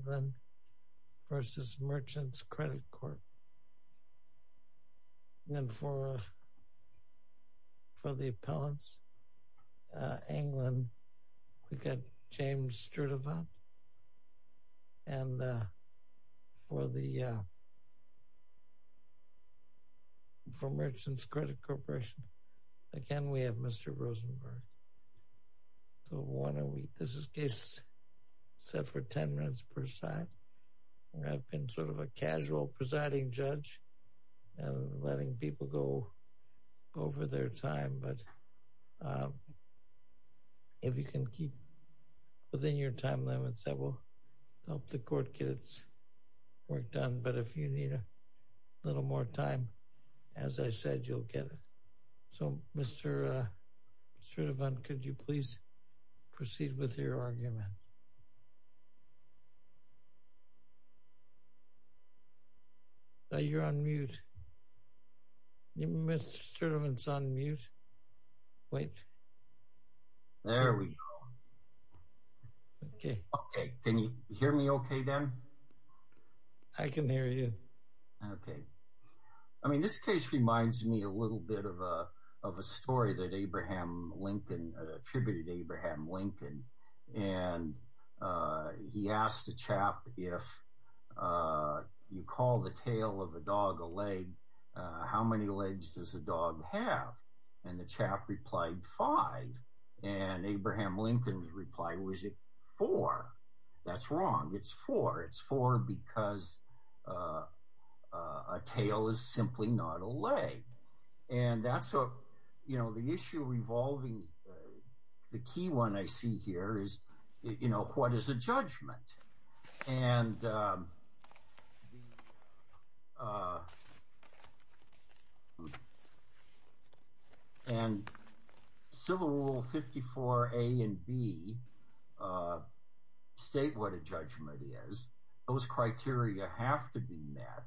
Anglin v. Merchants Credit Corp., and for the appellants, Anglin, we've got James Sturtevant, and for Merchants Credit Corporation, again, we have Mr. Rosenberg. So why don't we, this is case set for 10 minutes per side. I've been sort of a casual presiding judge and letting people go over their time, but if you can keep within your time limits, that will help the court get its work done, but if you need a little more time, as I said, you'll get it. So Mr. Sturtevant, could you please proceed with your argument? You're on mute. Mr. Sturtevant's on mute. Wait. There we go. Okay. Okay. Can you hear me okay then? I can hear you. Okay. I mean, this case reminds me a little bit of a story that Abraham Lincoln, attributed Abraham Lincoln, and he asked the chap, if you call the tail of a dog a leg, how many legs does a dog have? And the chap replied, five. And Abraham Lincoln replied, was it four? That's wrong. It's four. It's four because a tail is simply not a leg. And that's, you know, the issue revolving, the key one I see here is, you know, what is a judgment? And Civil Rule 54A and B state what a judgment is. Those criteria have to be met.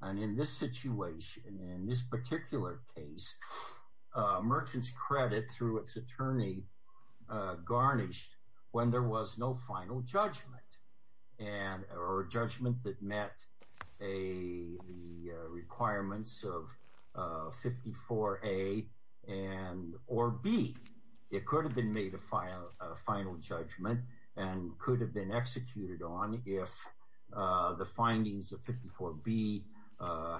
And in this situation, in this particular case, a merchant's credit through its attorney garnished when there was no final judgment. And, or a judgment that met the requirements of 54A and, or B. It could have been made a final judgment and could have been executed on if the findings of 54B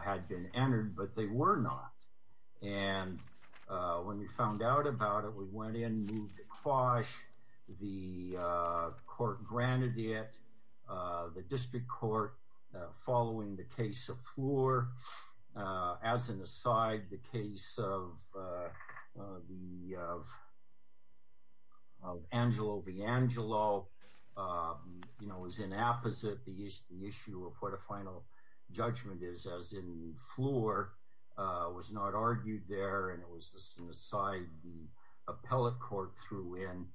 had been entered, but they were not. And when we found out about it, we went in, moved it quash. The court granted it. The district court, following the case of Floor, as an aside, the case of the, of Angelo V. Angelo, you know, was in apposite the issue of what a final judgment is. And the trial court, as in Floor, was not argued there. And it was just an aside. The appellate court threw in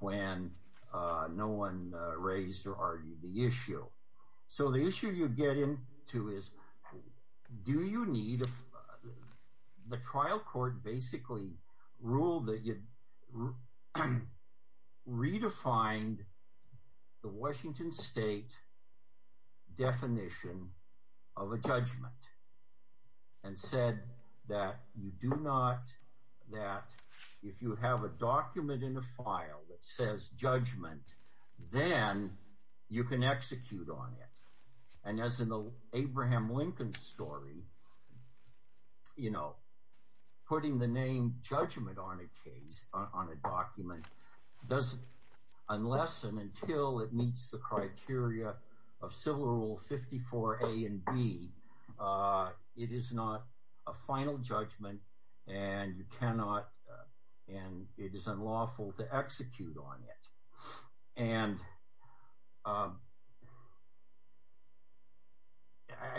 when no one raised or argued the issue. So the issue you get into is, do you need, the trial court basically ruled that you have to update definition of a judgment and said that you do not, that if you have a document in a file that says judgment, then you can execute on it. And as in the Abraham Lincoln story, you know, putting the name judgment on a case, on a document doesn't, unless and until it meets the criteria. Of civil rule 54A and B, it is not a final judgment and you cannot, and it is unlawful to execute on it. And I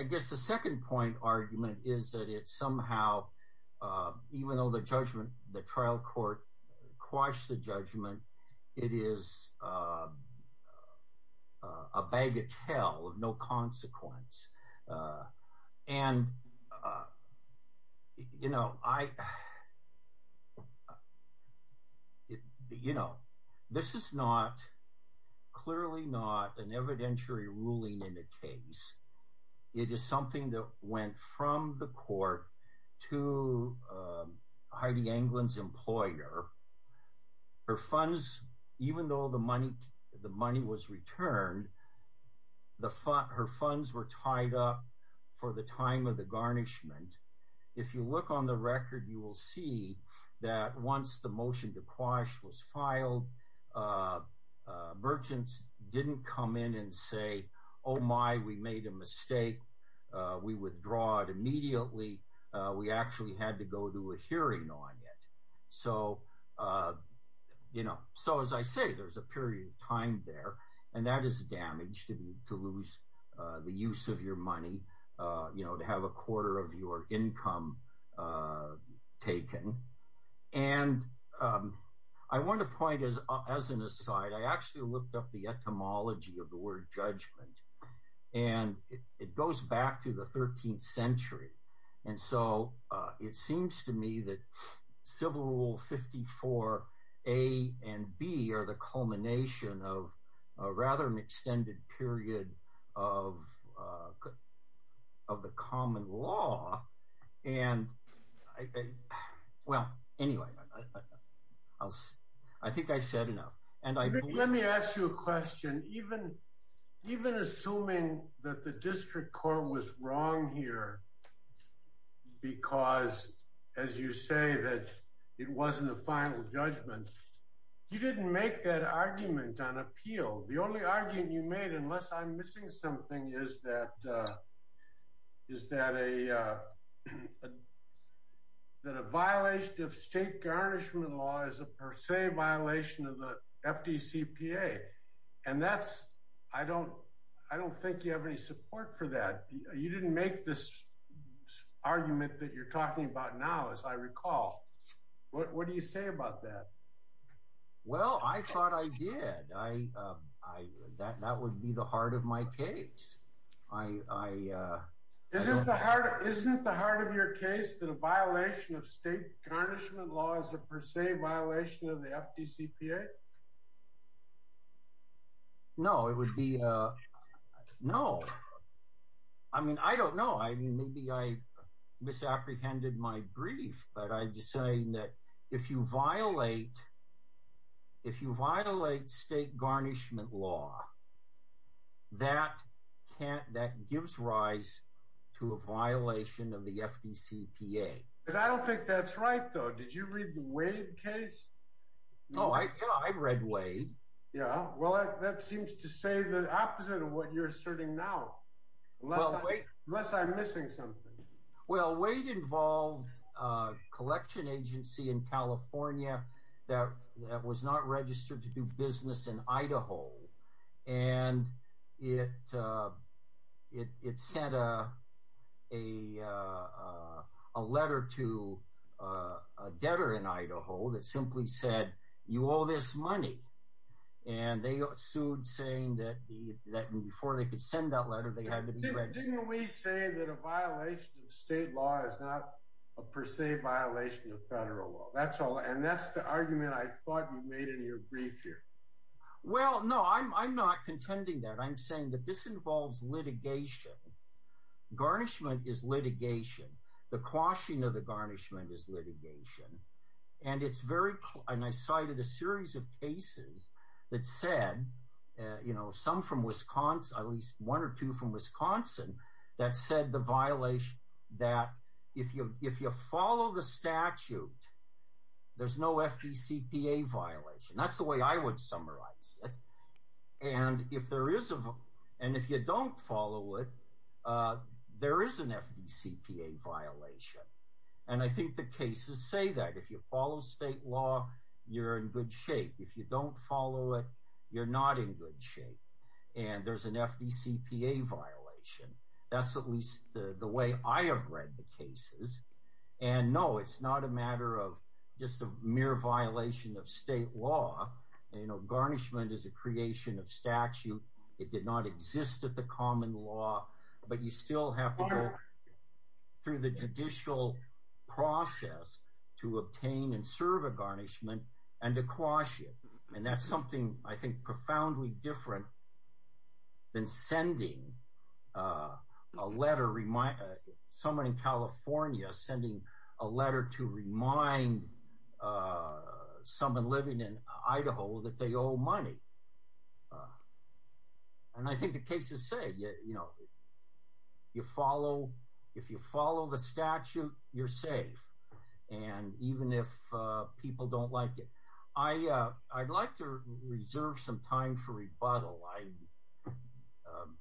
guess the second point argument is that it's somehow, even though the judgment, the trial court quashed the judgment, it is a bag of tell of no consequence. And, you know, I, you know, this is not, clearly not an evidentiary ruling in the case. It is something that went from the court to Heidi Anglin's employer. Her funds, even though the money, the money was returned, the fund, her funds were tied up for the time of the garnishment. If you look on the record, you will see that once the motion to quash was filed, you know, merchants didn't come in and say, oh my, we made a mistake. We withdraw it immediately. We actually had to go to a hearing on it. So, you know, so as I say, there's a period of time there, and that is damage to lose the use of your money, you know, to have a quarter of your income taken. And I want to point as, as an aside, I actually looked up the etymology of the word judgment, and it goes back to the 13th century. And so it seems to me that civil rule 54 A and B are the culmination of rather an extended period of the common law. And I, well, anyway, I'll, I think I said enough. And I, let me ask you a question. Even, even assuming that the district court was wrong here, because as you say that it wasn't a final judgment, you didn't make that argument on appeal. The only argument you made, unless I'm missing something, is that, is that a, that a violation of state garnishment law is a per se violation of the FDCPA. And that's, I don't, I don't think you have any support for that. You didn't make this argument that you're talking about now, as I recall. What do you say about that? Well, I thought I did. I, I, that, that would be the heart of my case. I, Isn't the heart, isn't the heart of your case that a violation of state garnishment law is a per se violation of the FDCPA? No, it would be a, no. I mean, I don't know. I mean, maybe I misapprehended my brief, but I'm just saying that if you violate, if you violate state garnishment law, that can't, that gives rise to a violation of the FDCPA. But I don't think that's right, though. Did you read the Wade case? No, I, yeah, I read Wade. Yeah. Well, that seems to say the opposite of what you're asserting now, unless I'm missing something. Well, Wade involved a collection agency in California that was not registered to do business in Idaho. And it, it sent a, a, a letter to a debtor in Idaho that simply said, you owe this money. And they sued saying that the, that before they could send that letter, they had to be registered. Didn't we say that a violation of state law is not a per se violation of federal law? That's all. And that's the argument I thought you made in your brief here. Well, no, I'm, I'm not contending that. I'm saying that this involves litigation. Garnishment is litigation. The quashing of the garnishment is litigation. And it's very, and I cited a series of cases that said, you know, some from Wisconsin, at least one or two from Wisconsin, that said the violation, that if you, if you follow the statute, there's no FDCPA violation. That's the way I would summarize it. And if there is a, and if you don't follow it, there is an FDCPA violation. And I think the cases say that if you follow state law, you're in good shape. If you don't follow it, you're not in good shape. And there's an FDCPA violation. That's at least the way I have read the cases. And no, it's not a matter of just a mere violation of state law. You know, garnishment is a creation of statute. It did not exist at the common law, but you still have to go through the judicial process to obtain and serve a garnishment and to quash it. And that's something I think, profoundly different than sending a letter, someone in California sending a letter to remind someone living in Idaho that they owe money. And I think the cases say, you know, you follow, if you follow the statute, you're safe. And even if people don't like it, I, I'd like to reserve some time for rebuttal. I, um,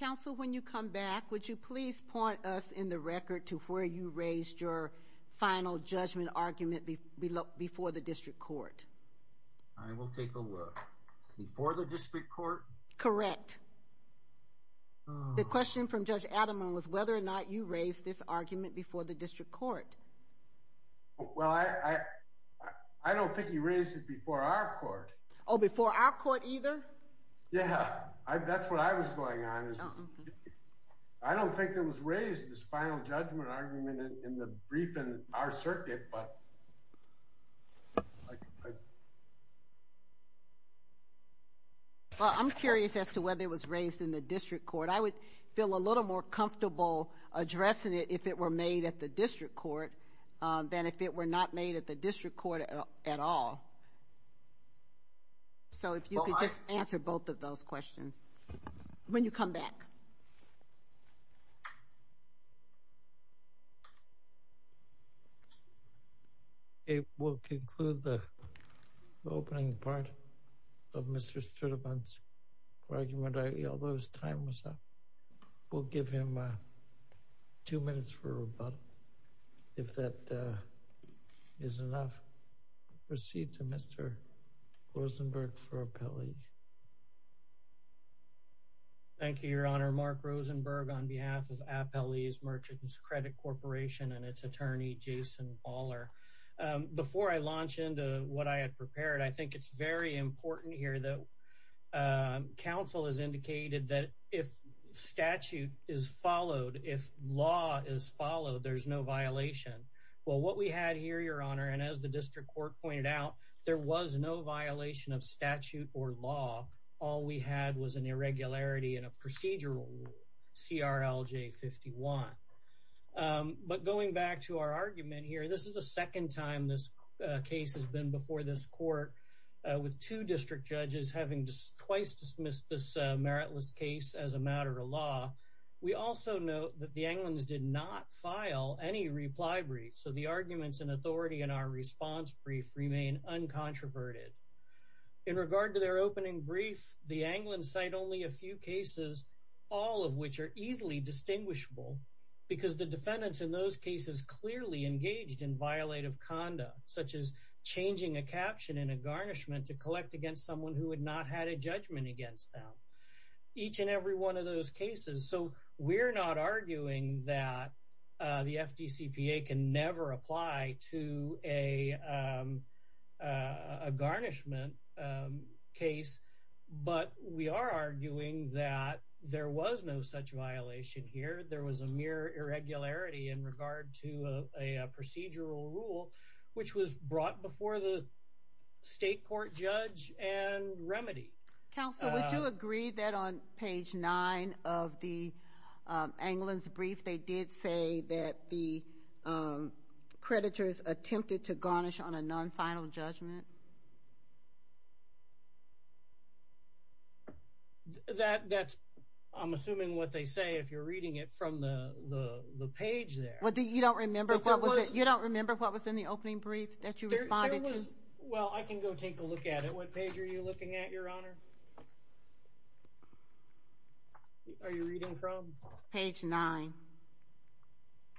counsel, when you come back, would you please point us in the record to where you raised your final judgment argument before the district court? I will take a look before the district court. Correct. The question from Judge Adam was whether or not you raised this argument before the district court. Well, I, I don't think he raised it before our court. Oh, before our court either? Yeah, I, that's what I was going on. I don't think it was raised, this final judgment argument in the brief in our circuit, but. I, I. Well, I'm curious as to whether it was raised in the district court. I would feel a little more comfortable addressing it if it were made at the district court than if it were not made at the district court at all. So if you could just answer both of those questions when you come back. Thank you. It will conclude the opening part of Mr. Sturtevant's argument. I, although his time was up, we'll give him two minutes for rebuttal. If that is enough, we'll proceed to Mr. Rosenberg for appellee. Thank you, Your Honor. Mark Rosenberg on behalf of Appellee's Merchants Credit Corporation and its attorney, Jason Baller. Before I launch into what I had prepared, I think it's very important here that counsel has indicated that if statute is followed, if law is followed, there's no violation. Well, what we had here, Your Honor, and as the district court pointed out, there was no violation of statute or law. All we had was an irregularity in a procedural CRLJ 51. But going back to our argument here, this is the second time this case has been before this court with two district judges having twice dismissed this meritless case as a matter of law. We also note that the Anglins did not file any reply brief. So the arguments and authority in our response brief remain uncontroverted. In regard to their opening brief, the Anglins cite only a few cases, all of which are easily distinguishable because the defendants in those cases clearly engaged in violative conduct, such as changing a caption in a garnishment to collect against someone who had not had a judgment against them. Each and every one of those cases. So we're not arguing that the FDCPA can never apply to a garnishment case, but we are arguing that there was no such violation here. There was a mere irregularity in regard to a procedural rule which was brought before the state court judge and remedy. Counsel, would you agree that on page nine of the Anglins brief, they did say that the creditors attempted to garnish on a non-final judgment? That that's I'm assuming what they say if you're reading it from the the page there. What do you don't remember what was it you don't remember what was in the opening brief that you Well, I can go take a look at it. What page are you looking at, Your Honor? Are you reading from? Page nine.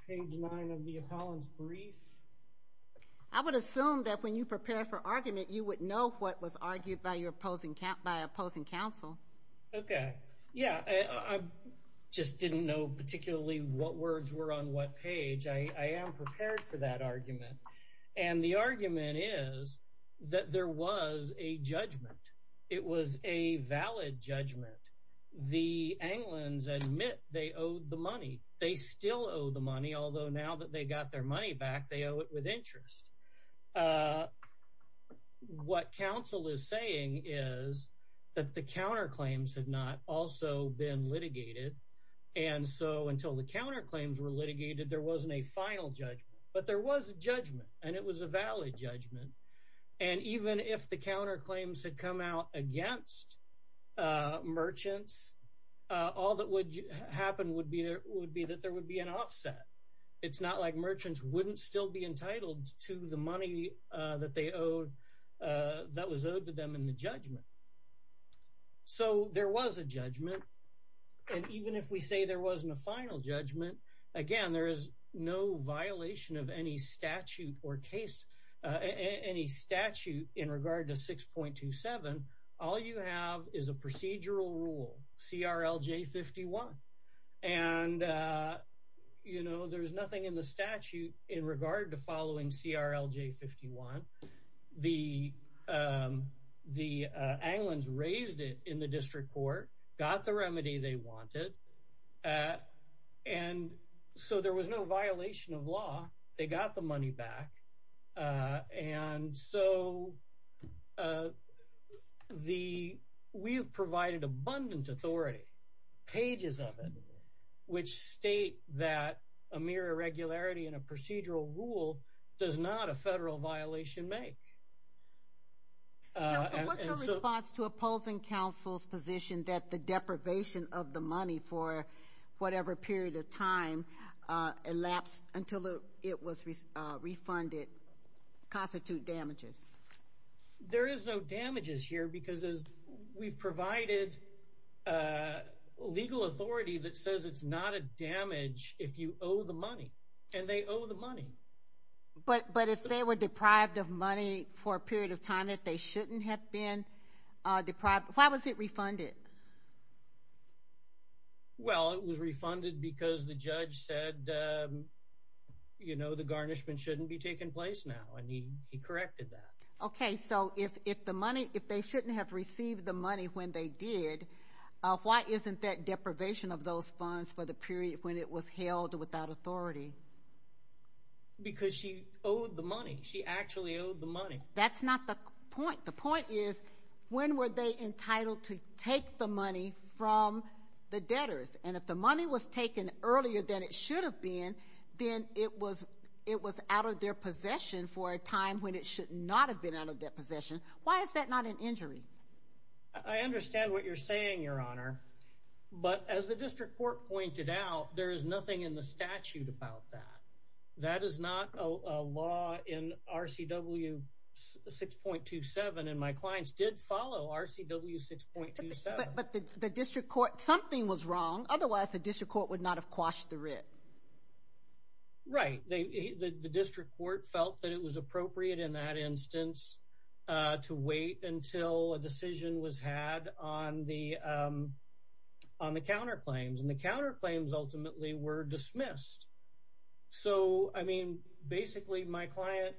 Page nine of the appellant's brief. I would assume that when you prepare for argument, you would know what was argued by your opposing, by opposing counsel. Okay. Yeah. I just didn't know particularly what words were on what page. I am prepared for that is that there was a judgment. It was a valid judgment. The Anglins admit they owed the money. They still owe the money, although now that they got their money back, they owe it with interest. What counsel is saying is that the counterclaims had not also been litigated. And so until the counterclaims were litigated, there wasn't a final judgment, but there was a judgment and it was a valid judgment. And even if the counterclaims had come out against merchants, all that would happen would be there would be that there would be an offset. It's not like merchants wouldn't still be entitled to the money that they owed that was owed to them in the judgment. So there was a judgment. And even if we say there wasn't a final judgment, again, there is no violation of any statute in regard to 6.27. All you have is a procedural rule, CRLJ 51. And there's nothing in the statute in regard to following CRLJ 51. The Anglins raised it in the district court, got the remedy they wanted. And so there was no violation of law. They got the money back. And so we've provided abundant authority, pages of it, which state that a mere irregularity in a make. What's your response to opposing counsel's position that the deprivation of the money for whatever period of time elapsed until it was refunded constitute damages? There is no damages here because we've provided legal authority that says it's not a damage if you owe the money. And they owe the money. But if they were deprived of money for a period of time that they shouldn't have been deprived, why was it refunded? Well, it was refunded because the judge said, you know, the garnishment shouldn't be taking place now. And he corrected that. Okay. So if they shouldn't have received the money when they did, why isn't that deprivation of those funds for the period when it was held without authority? Because she owed the money. She actually owed the money. That's not the point. The point is, when were they entitled to take the money from the debtors? And if the money was taken earlier than it should have been, then it was out of their possession for a time when it should not have been out of their possession. Why is that not an injury? I understand what you're saying, Your Honor. But as the district court pointed out, there is nothing in the statute about that. That is not a law in RCW 6.27. And my clients did follow RCW 6.27. But the district court, something was wrong. Otherwise, the district court would not have quashed the writ. Right. The district court felt that it was appropriate in that instance to wait until a decision was had on the counterclaims. And the counterclaims ultimately were dismissed. So, I mean, basically my client,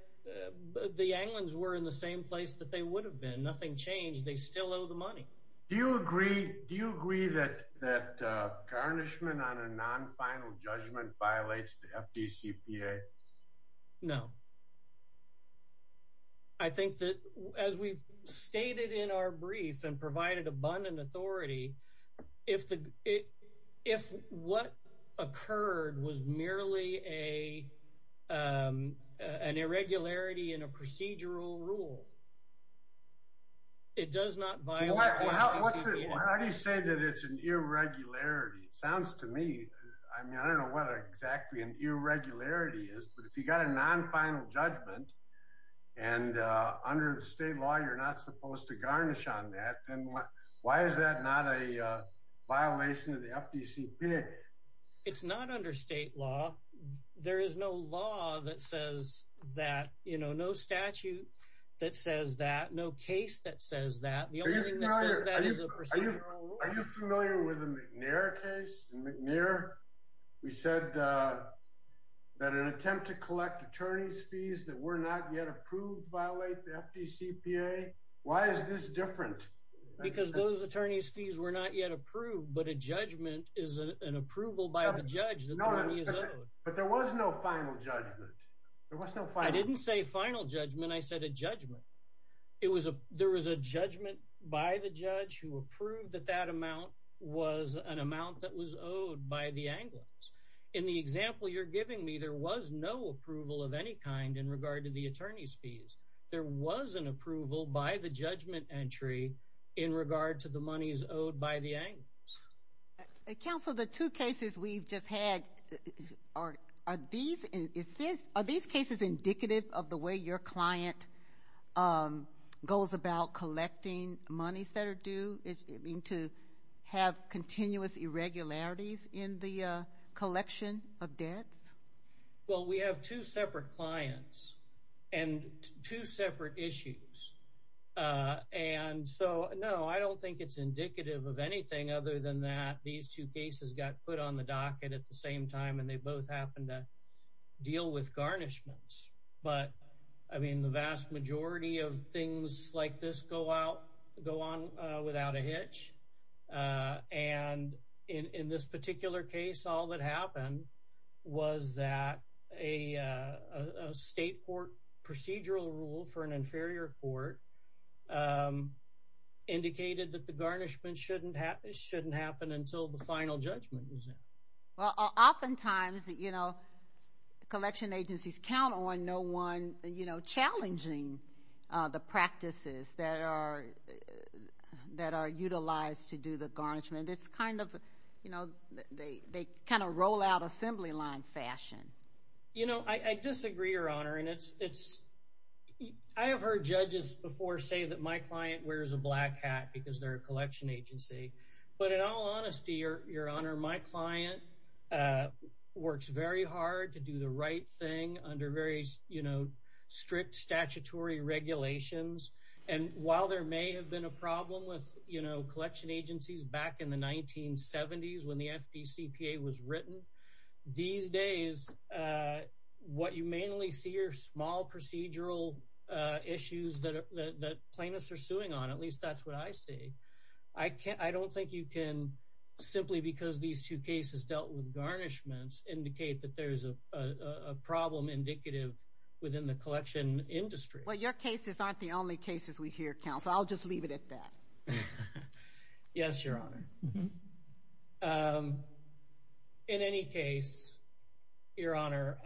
the Anglins were in the same place that they would have been. Nothing changed. They still owe the money. Do you agree that garnishment on a non-final judgment violates the FDCPA? No. I think that as we've stated in our brief and provided abundant authority, if what occurred was merely an irregularity in a procedural rule, it does not violate the FDCPA. How do you say that it's an irregularity? It sounds to me, I mean, I don't know what exactly an irregularity is, but if you got a non-final judgment and under the state law, you're not supposed to garnish on that, then why is that not a violation of the FDCPA? It's not under state law. There is no law that says that, you know, no statute that says that, no case that says that. The only thing that says that is a procedural rule. Are you familiar with the McNair case? In McNair, we said that an attempt to collect attorney's fees that were not yet approved violate the FDCPA. Why is this different? Because those attorney's fees were not yet approved, but a judgment is an approval by the judge that the money is owed. But there was no final judgment. I didn't say final judgment. I was an amount that was owed by the Anglers. In the example you're giving me, there was no approval of any kind in regard to the attorney's fees. There was an approval by the judgment entry in regard to the monies owed by the Anglers. Council, the two cases we've just had, are these cases indicative of the way your client goes about collecting monies that are due? Have continuous irregularities in the collection of debts? Well, we have two separate clients and two separate issues. And so, no, I don't think it's indicative of anything other than that these two cases got put on the docket at the same time and they both happen to deal with garnishments. But, I mean, the vast majority of things like this go on without a hitch. And in this particular case, all that happened was that a state court procedural rule for an inferior court indicated that the garnishment shouldn't happen until the final judgment was in. Well, oftentimes, you know, collection agencies count on no one, you know, challenging the practices that are utilized to do the garnishment. It's kind of, you know, they kind of roll out assembly line fashion. You know, I disagree, Your Honor, and it's, I have heard judges before say that my client wears a black hat because they're a collection agency. But in all honesty, Your Honor, my client works very hard to do the right thing under various, you know, strict statutory regulations. And while there may have been a problem with, you know, collection agencies back in the 1970s when the FDCPA was written, these days what you mainly see are small procedural issues that plaintiffs are suing on. At least that's what I see. I don't think you can simply because these two cases dealt with garnishments indicate that there's a problem indicative within the collection industry. Well, your cases aren't the only cases we hear, counsel. I'll just leave it at that. Yes, Your Honor. In any case, Your Honor,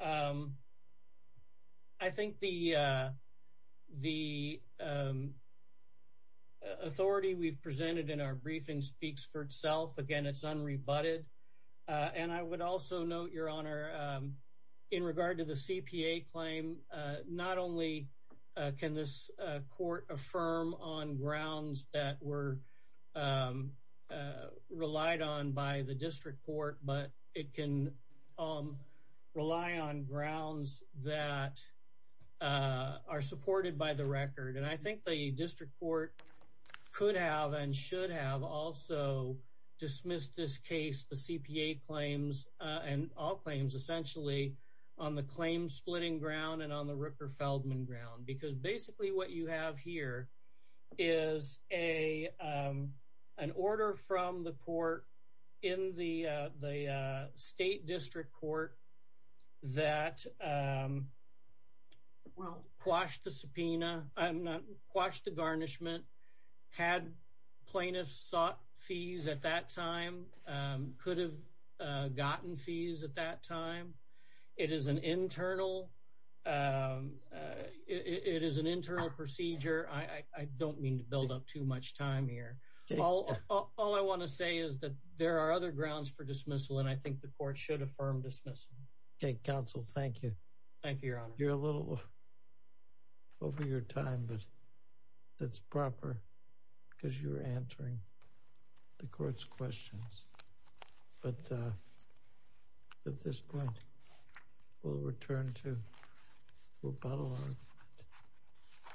I think the authority we've presented in our briefing speaks for itself. Again, it's unrebutted. And I would also note, Your Honor, in regard to the CPA claim, not only can this court affirm on grounds that were relied on by the district court, but it can rely on grounds that are supported by the record. And I think the district court could have and should have also dismissed this case, the CPA claims and all claims essentially on the claim splitting ground and on the Rooker-Feldman ground. Because basically what you have here is an order from the court in the state district court that quashed the subpoena, quashed the garnishment, had plaintiffs sought fees at that time, could have gotten fees at that time. It is an internal procedure. I don't mean to build up too much time here. All I want to say is that there are other grounds for dismissal, and I think the court should affirm dismissal. Okay, counsel. Thank you. Thank you, Your Honor. You're a little over your time, but that's proper because you're answering the court's questions. But at this point, we'll return to the rebuttal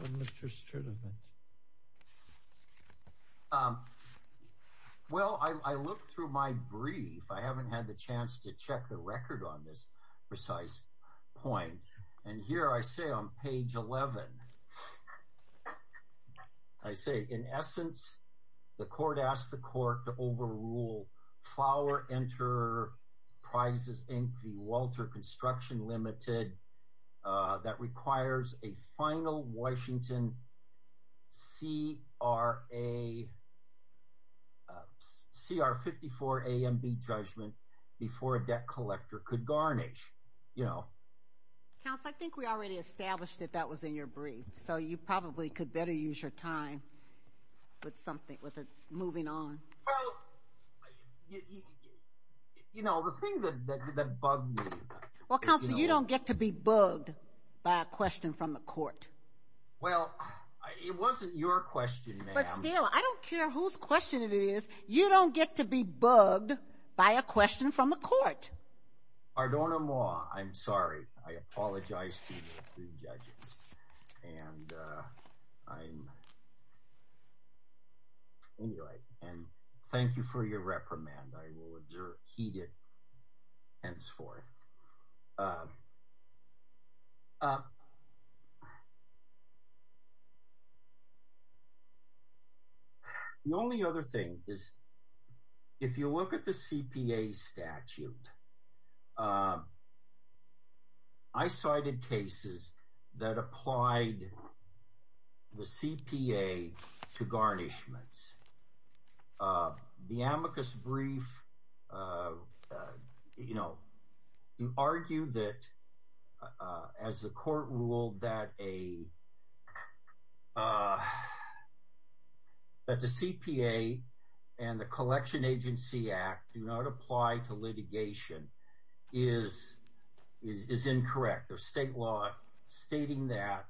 on Mr. Strittemann. Well, I looked through my brief. I haven't had the chance to check the record on this precise point. And here I say on page 11, I say, in essence, the court asked the court to overrule Flower Enterprises Inc. v. Walter Construction Ltd. that requires a final Washington C.R. 54 A.M.B. judgment before a debt collector could garnish, you know. Counsel, I think we already established that that was in your brief, so you probably could better use your time with something, with moving on. You know, the thing that bugged me. Well, counsel, you don't get to be bugged by a question from the court. Well, it wasn't your question, ma'am. But still, I don't care whose question it is. You don't get to be bugged by a question from the court. Ardona Moi, I'm sorry. I apologize to the judges. And I'm, anyway, and thank you for your reprimand. I will observe, heed it henceforth. The only other thing is, if you look at the CPA statute, I cited cases that applied the CPA to garnishments. The amicus brief, you know, you argue that, as the court ruled, that the CPA and the Collection Agency Act do not apply to litigation is incorrect. There's state law stating that.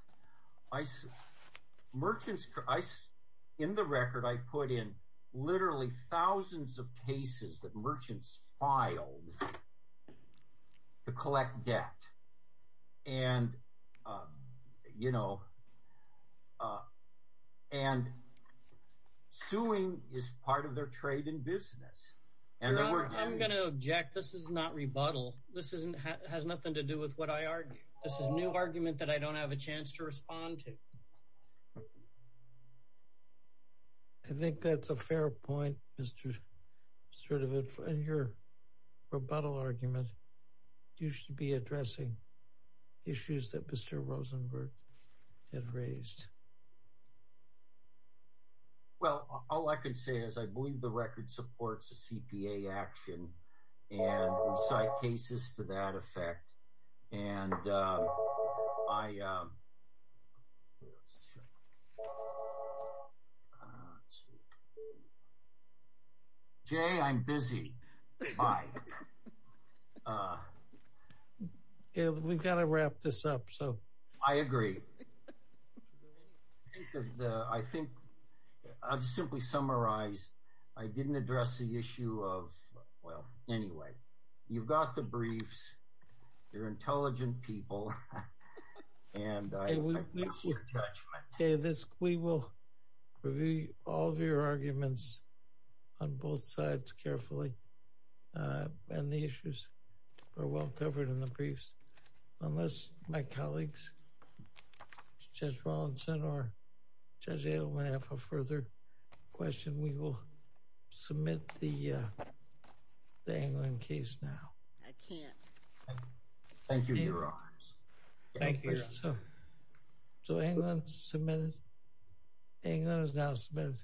In the record, I put in literally thousands of cases that merchants filed to collect debt. And, you know, and suing is part of their trade in business. I'm going to object. This is not rebuttal. This has nothing to do with what I argue. This is a new argument that I don't have a chance to respond to. I think that's a fair point, Mr. Sturtevant, in your rebuttal argument. You should be addressing issues that Mr. Rosenberg had raised. Well, all I can say is I believe the record supports the CPA action and cite cases to that effect. And I Jay, I'm busy. Bye. We've got to wrap this up. I agree. I think I've simply summarized. I didn't address the issue of, well, anyway, you've got the briefs. They're intelligent people. And we will review all of your arguments on both sides carefully. And the issues are well covered in the briefs. Unless my colleagues, Judge Rawlinson or Judge Adelman have a further question, we will submit the Anglin case now. I can't. Thank you, Your Honors. So Anglin submitted. Anglin is now submitted.